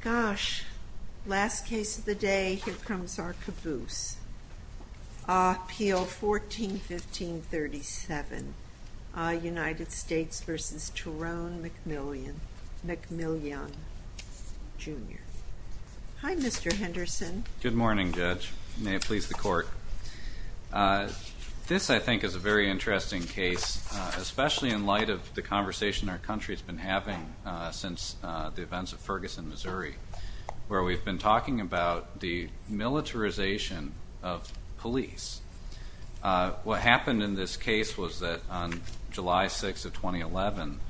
Gosh, last case of the day, here comes our caboose. Appeal 14-15-37, United States v. Tyrone McMillian, Jr. Hi, Mr. Henderson. Good morning, Judge. May it please the court. This, I think, is a very interesting case, especially in light of the conversation our country's been having since the events of Ferguson, Missouri, where we've been talking about the militarization of police. What happened in this case was that on July 6 of 2011,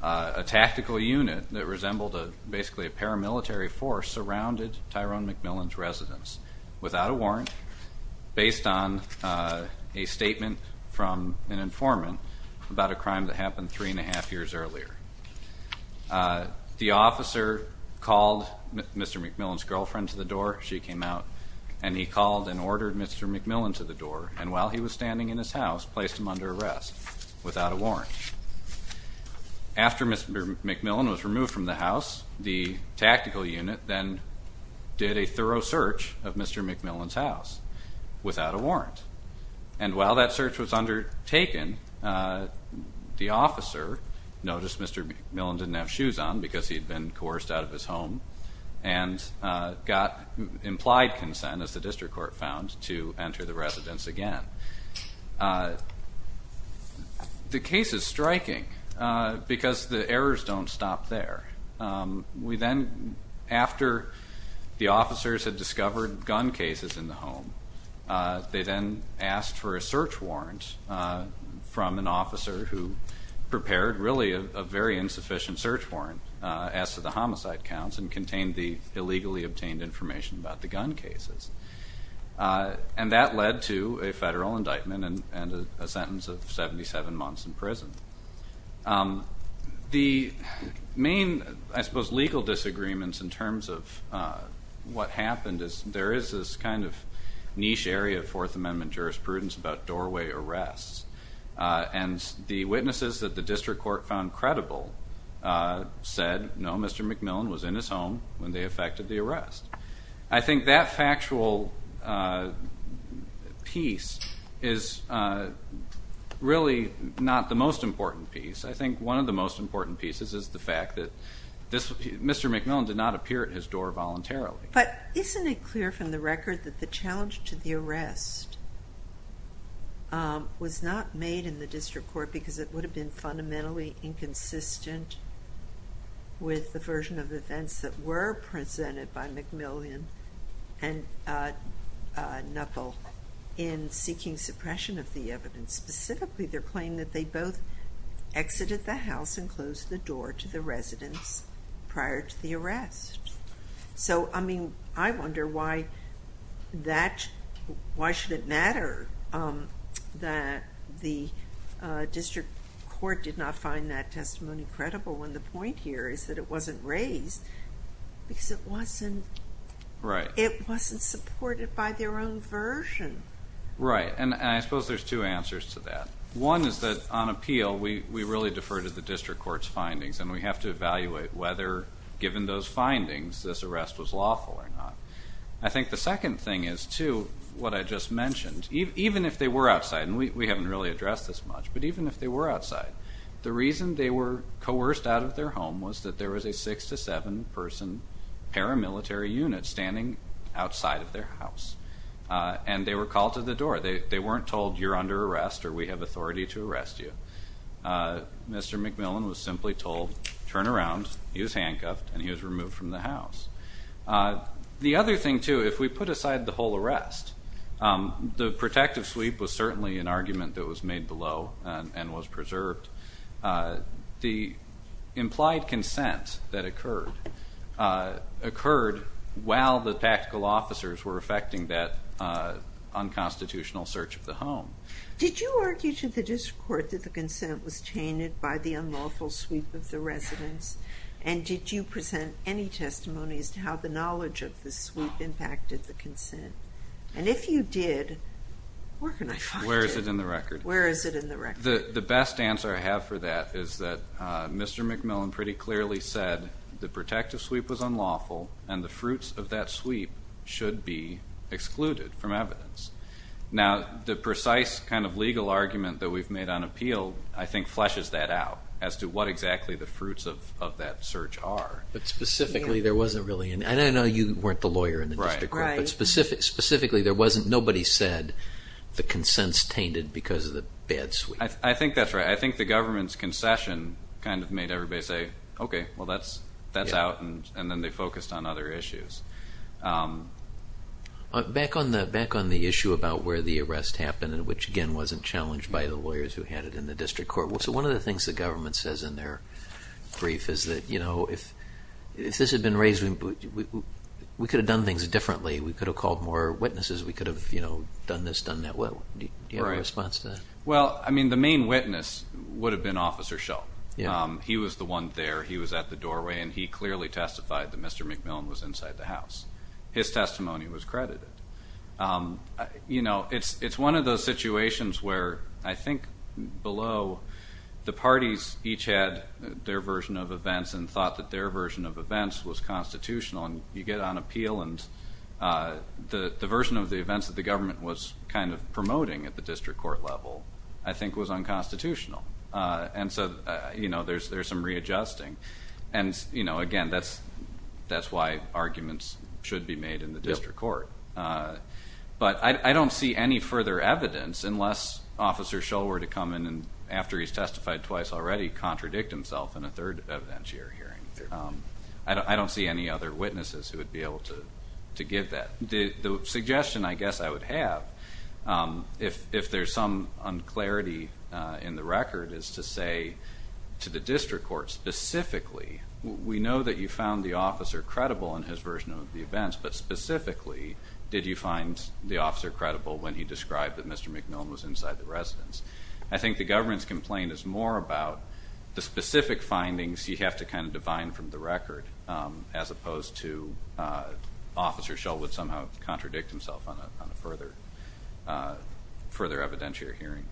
a tactical unit that resembled basically a paramilitary force surrounded Tyrone McMillian's residence without a warrant, based on a statement from an informant about a crime that happened three and a half years earlier. The officer called Mr. McMillian's girlfriend to the door. She came out. And he called and ordered Mr. McMillian to the door. And while he was standing in his house, placed him under arrest without a warrant. After Mr. McMillian was removed from the house, the tactical unit then did a thorough search of Mr. McMillian's house without a warrant. And while that search was undertaken, the officer noticed Mr. McMillian didn't have shoes on because he'd been coerced out of his home. And got implied consent, as the district court found, to enter the residence again. The case is striking because the errors don't stop there. After the officers had discovered gun cases in the home, they then asked for a search warrant from an officer who prepared, really, a very insufficient search warrant as to the homicide counts. And contained the illegally obtained information about the gun cases. And that led to a federal indictment and a sentence of 77 months in prison. The main, I suppose, legal disagreements in terms of what happened is there is this kind of niche area of Fourth Amendment jurisprudence about doorway arrests. And the witnesses that the district court found credible said, no, Mr. McMillian was in his home when they effected the arrest. I think that factual piece is really not the most important piece. I think one of the most important pieces is the fact that Mr. McMillian did not appear at his door voluntarily. But isn't it clear from the record that the challenge to the arrest was not made in the district court because it would have been fundamentally inconsistent with the version of events that were presented by McMillian and Knuckle in seeking suppression of the evidence. Specifically, their claim that they both exited the house and closed the door to the residence prior to the arrest. So, I mean, I wonder why should it matter that the district court did not find that testimony credible when the point here is that it wasn't raised because it wasn't supported by their own version. Right, and I suppose there's two answers to that. One is that on appeal, we really defer to the district court's findings. And we have to evaluate whether, given those findings, this arrest was lawful or not. I think the second thing is, too, what I just mentioned. Even if they were outside, and we haven't really addressed this much, but even if they were outside, the reason they were coerced out of their home was that there was a six to seven person paramilitary unit standing outside of their house. And they were called to the door. They weren't told you're under arrest or we have authority to arrest you. Mr. McMillan was simply told, turn around, he was handcuffed, and he was removed from the house. The other thing, too, if we put aside the whole arrest, the protective sweep was certainly an argument that was made below and was preserved. The implied consent that occurred occurred while the tactical officers were effecting that unconstitutional search of the home. Did you argue to the district court that the consent was tainted by the unlawful sweep of the residence? And did you present any testimony as to how the knowledge of the sweep impacted the consent? And if you did, where can I find it? Where is it in the record? Where is it in the record? The best answer I have for that is that Mr. McMillan pretty clearly said the protective sweep was unlawful, and the fruits of that sweep should be excluded from evidence. Now, the precise kind of legal argument that we've made on appeal, I think, fleshes that out as to what exactly the fruits of that search are. But specifically, there wasn't really an, and I know you weren't the lawyer in the district court, but specifically, there wasn't, nobody said the consents tainted because of the bad sweep. I think that's right. I think the government's concession kind of made everybody say, OK, well, that's out, and then they focused on other issues. Back on the issue about where the arrest happened, which, again, wasn't challenged by the lawyers who had it in the district court, so one of the things the government says in their brief is that if this had been raised, we could have done things differently. We could have called more witnesses. We could have done this, done that. Well, do you have a response to that? Well, I mean, the main witness would have been Officer Schell. He was the one there. He was at the doorway, and he clearly testified that Mr. McMillan was inside the house. His testimony was credited. You know, it's one of those situations where I think below, the parties each had their version of events and thought that their version of events was constitutional, and you get on appeal, and the version of the events that the government was kind of promoting at the district court level, I think, was unconstitutional. And so, you know, there's some readjusting. And, you know, again, that's why arguments should be made in the district court. But I don't see any further evidence, unless Officer Schell were to come in and, after he's testified twice already, contradict himself in a third evidentiary hearing. I don't see any other witnesses who would be able to give that. The suggestion, I guess, I would have, if there's some unclarity in the record, is to say to the district court, specifically, we know that you found the officer credible in his version of the events, but specifically, did you find the officer credible when he described that Mr. McMillan was inside the residence? I think the government's complaint is more about the specific findings you have to kind of divine from the record, as opposed to Officer Schell would somehow contradict himself on a further evidentiary hearing.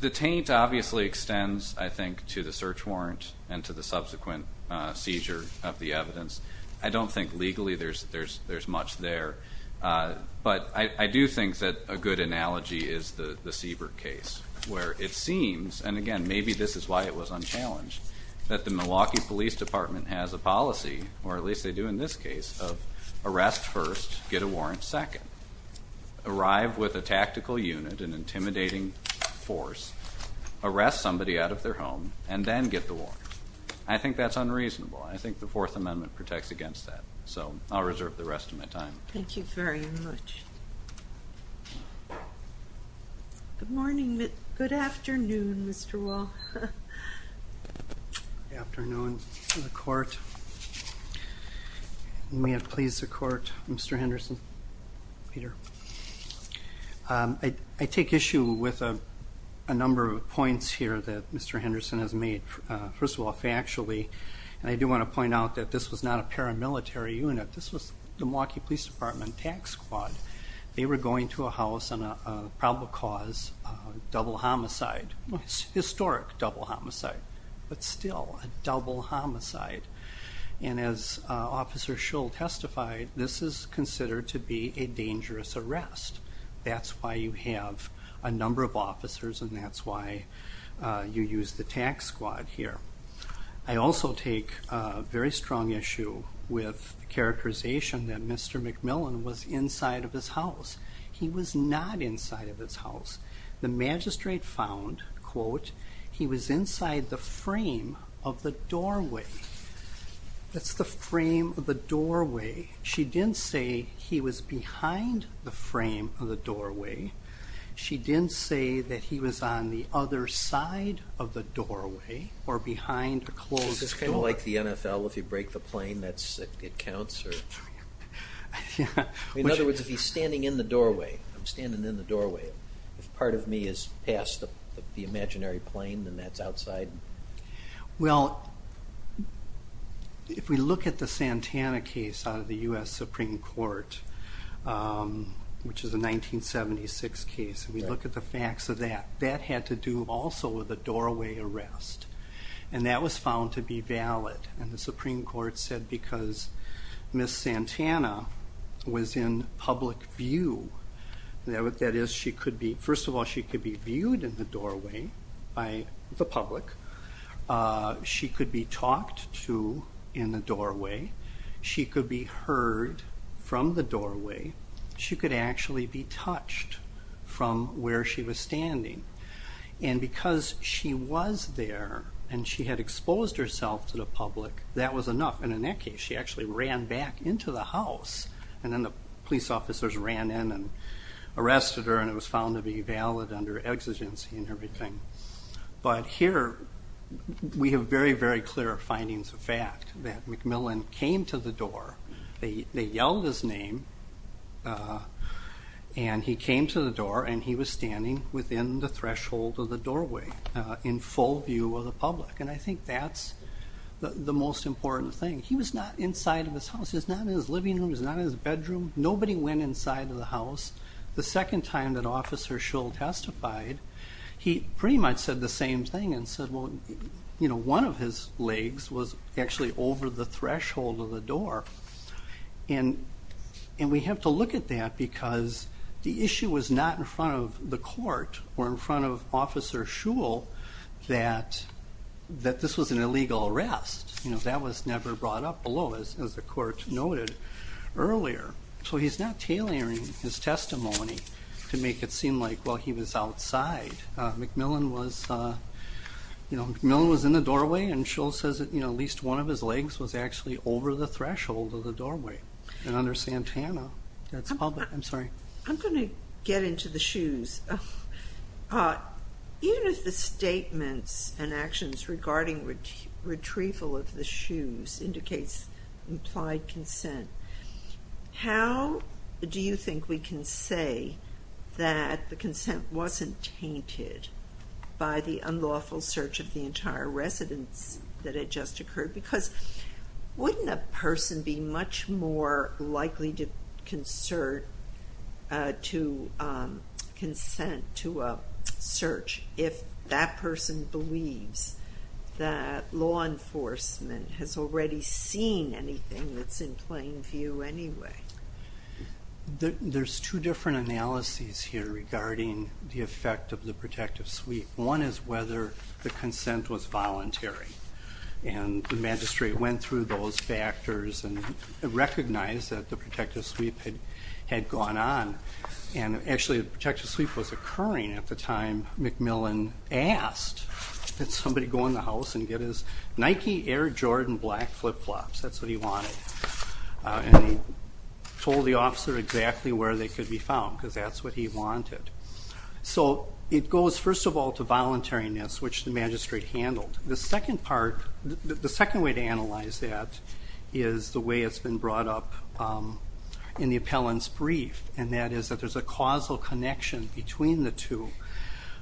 The taint, obviously, extends, I think, to the search warrant and to the subsequent seizure of the evidence. I don't think, legally, there's much there. But I do think that a good analogy is the Siebert case, where it seems, and again, maybe this is why it was unchallenged, that the Milwaukee Police Department has a policy, or at least they do in this case, of arrest first, get a warrant second. Arrive with a tactical unit, an intimidating force, arrest somebody out of their home, and then get the warrant. I think that's unreasonable. I think the Fourth Amendment protects against that. So I'll reserve the rest of my time. Thank you very much. Good morning. Good afternoon, Mr. Wall. Good afternoon to the court. And may it please the court, Mr. Henderson, Peter. I take issue with a number of points here that Mr. Henderson has made. First of all, factually, and I do want to point out that this was not a paramilitary unit. This was the Milwaukee Police Department tax squad. They were going to a house on a probable cause, double homicide, historic double homicide, but still a double homicide. And as Officer Schull testified, this is considered to be a dangerous arrest. That's why you have a number of officers, and that's why you use the tax squad here. I also take a very strong issue with the characterization that Mr. McMillan was inside of his house. He was not inside of his house. The magistrate found, quote, he was inside the frame of the doorway. That's the frame of the doorway. She didn't say he was behind the frame of the doorway. She didn't say that he was on the other side of the doorway or behind a closed door. This is kind of like the NFL. If you break the plane, it counts. In other words, if he's standing in the doorway, I'm standing in the doorway, if part of me is past the imaginary plane, then that's outside. Well, if we look at the Santana case out of the US Supreme Court, which is a 1976 case, and we look at the facts of that, that had to do also with a doorway arrest. And that was found to be valid. And the Supreme Court said because Miss Santana was in public view, that is, she could be, first of all, she could be viewed in the doorway by the public. She could be talked to in the doorway. She could be heard from the doorway. She could actually be touched from where she was standing. And because she was there and she had exposed herself to the public, that was enough. And in that case, she actually ran back into the house. And then the police officers ran in and arrested her. And it was found to be valid under exigency and everything. But here, we have very, very clear findings of fact that McMillan came to the door. They yelled his name. And he came to the door. And he was standing within the threshold of the doorway in full view of the public. And I think that's the most important thing. He was not inside of his house. He was not in his living room. He was not in his bedroom. Nobody went inside of the house. The second time that Officer Shull testified, he pretty much said the same thing and said, well, one of his legs was actually over the threshold of the door. And we have to look at that because the issue was not in front of the court or in front of Officer Shull that this was an illegal arrest. That was never brought up below, as the court noted earlier. So he's not tailoring his testimony to make it seem like, well, he was outside. McMillan was in the doorway. And Shull says that at least one of his legs was actually over the threshold of the doorway. And under Santana, that's public. I'm sorry. I'm going to get into the shoes. Even if the statements and actions regarding retrieval of the shoes indicates implied consent, how do you think we can say that the consent wasn't tainted by the unlawful search of the entire residence that had just occurred? Because wouldn't a person be much more concerned to consent to a search if that person believes that law enforcement has already seen anything that's in plain view anyway? There's two different analyses here regarding the effect of the protective suite. One is whether the consent was voluntary. And the magistrate went through those factors and recognized that the protective suite had gone on. And actually, the protective suite was occurring at the time McMillan asked that somebody go in the house and get his Nike Air Jordan black flip-flops. That's what he wanted. And he told the officer exactly where they could be found, because that's what he wanted. So it goes, first of all, to voluntariness, which the magistrate handled. The second part, the second way to analyze that, is the way it's been brought up in the appellant's brief. And that is that there's a causal connection between the two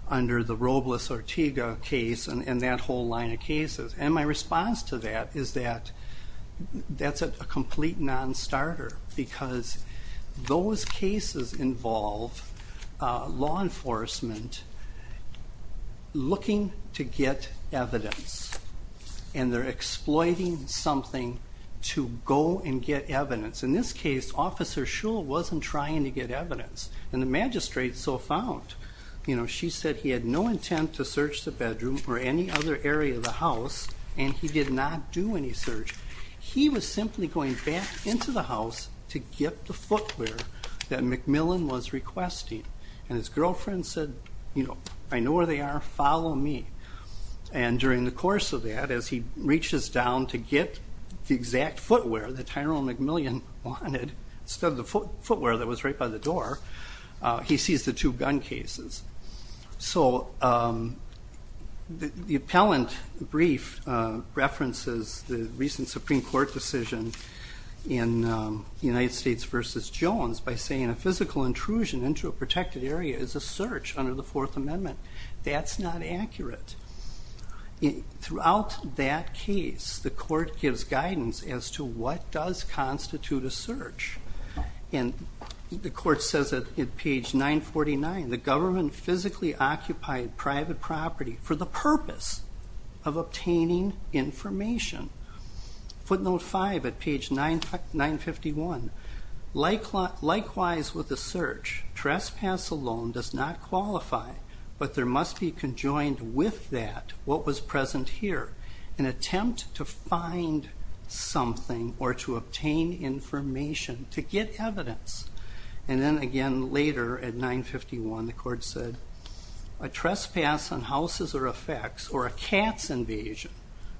under the Robles-Ortega case and that whole line of cases. And my response to that is that that's a complete non-starter. Because those cases involve law enforcement looking to get evidence. And they're exploiting something to go and get evidence. In this case, Officer Shull wasn't trying to get evidence. And the magistrate so found. She said he had no intent to search the bedroom or any other area of the house. And he did not do any search. He was simply going back into the house to get the footwear that McMillan was requesting. And his girlfriend said, I know where they are. Follow me. And during the course of that, as he reaches down to get the exact footwear that Tyrone McMillan wanted, instead of the footwear that was right by the door, he sees the two gun cases. So the appellant brief references the recent Supreme Court decision in United States versus Jones by saying a physical intrusion into a protected area is a search under the Fourth Amendment. That's not accurate. Throughout that case, the court gives guidance as to what does constitute a search. And the court says that at page 949, the government physically occupied private property for the purpose of obtaining information. Footnote 5 at page 951, likewise with the search, trespass alone does not qualify. But there must be conjoined with that what was present here, an attempt to find something or to obtain information to get evidence. And then again, later at 951, the court said a trespass on houses or effects or a cat's invasion,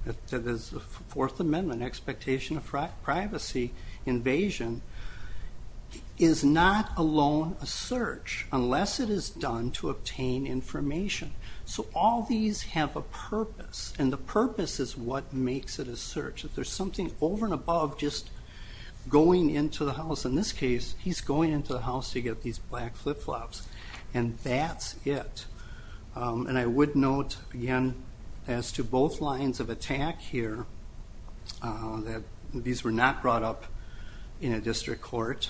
that is the Fourth Amendment expectation of privacy invasion, is not alone a search unless it is done to obtain information. So all these have a purpose. And the purpose is what makes it a search, that there's something over and above just going into the house. In this case, he's going into the house to get these black flip-flops. And that's it. And I would note, again, as to both lines of attack here, that these were not brought up in a district court.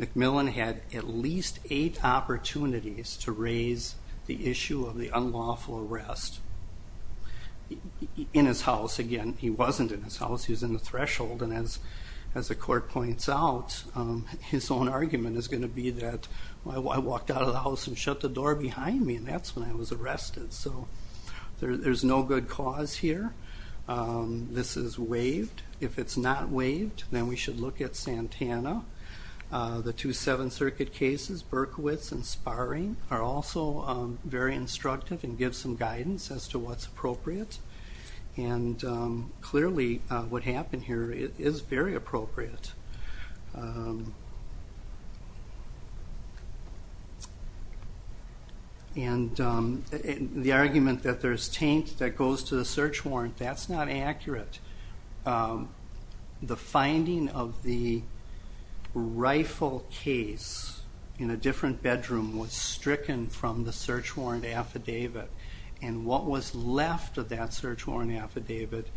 McMillan had at least eight opportunities to raise the issue of the unlawful arrest. In his house, again, he wasn't in his house. He was in the threshold. And as the court points out, his own argument is going to be that, well, I walked out of the house and shut the door behind me, and that's when I was arrested. So there's no good cause here. This is waived. If it's not waived, then we should look at Santana. The two Seventh Circuit cases, Berkowitz and Sparring, are also very instructive and give some guidance as to what's appropriate. And clearly, what happened here is very appropriate. And the argument that there's taint that goes to the search warrant, that's not accurate. The finding of the rifle case in a different bedroom was stricken from the search warrant affidavit. And what was left of that search warrant affidavit,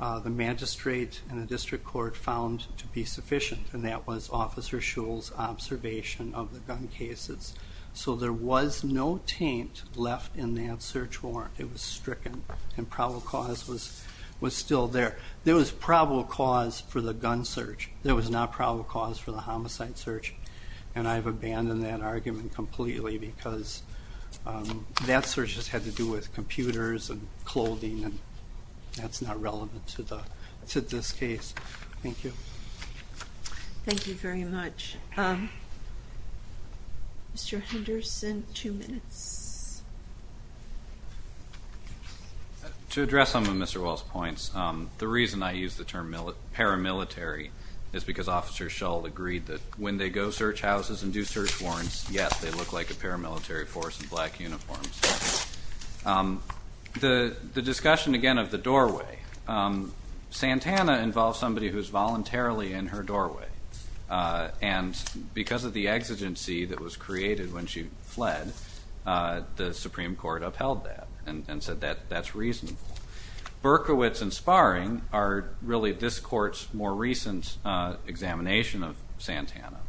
the magistrate and the district court found to be sufficient. And that was Officer Shule's observation of the gun cases. So there was no taint left in that search warrant. It was stricken. And probable cause was still there. There was probable cause for the gun search. There was not probable cause for the homicide search. And I've abandoned that argument completely because that search just had to do with computers and clothing, and that's not relevant to this case. Thank you. Thank you very much. Mr. Henderson, two minutes. To address some of Mr. Wall's points, the reason I use the term paramilitary is because Officer Shule agreed that when they go search houses and do search warrants, yes, they look like a paramilitary force in black uniforms. The discussion, again, of the doorway. Santana involves somebody who's voluntarily in her doorway. And because of the exigency that was created when she fled, the Supreme Court upheld that. That's reasonable. Berkowitz and Sparring are really this court's more recent examination of Santana.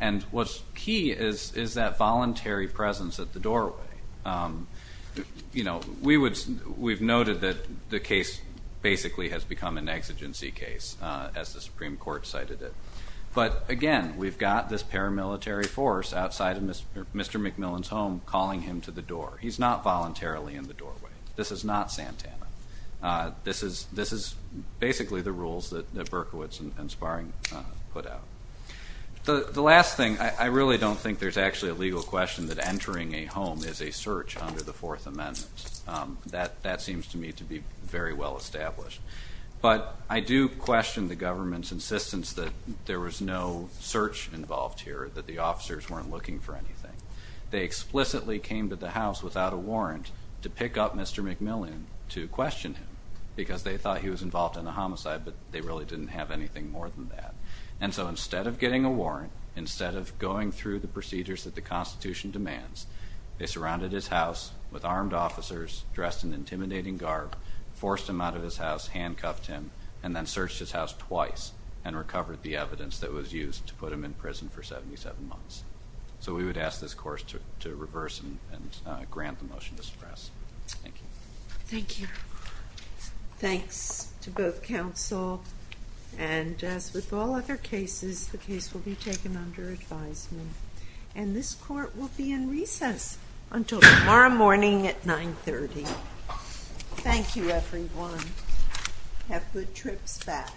And what's key is that voluntary presence at the doorway. We've noted that the case basically has become an exigency case, as the Supreme Court cited it. But again, we've got this paramilitary force outside of Mr. McMillan's home calling him to the door. He's not voluntarily in the doorway. This is not Santana. This is basically the rules that Berkowitz and Sparring put out. The last thing, I really don't think there's actually a legal question that entering a home is a search under the Fourth Amendment. That seems to me to be very well established. But I do question the government's insistence that there was no search involved here, that the officers weren't looking for anything. They explicitly came to the house without a warrant to pick up Mr. McMillan, to question him, because they thought he was involved in the homicide. But they really didn't have anything more than that. And so instead of getting a warrant, instead of going through the procedures that the Constitution demands, they surrounded his house with armed officers dressed in intimidating garb, forced him out of his house, handcuffed him, and then searched his house twice and recovered the evidence that was used to put him in prison for 77 months. So we would ask this course to reverse and grant the motion to stress. Thank you. Thank you. Thanks to both counsel. And as with all other cases, the case will be taken under advisement. And this court will be in recess until tomorrow morning at 930. Thank you, everyone. Have good trips back.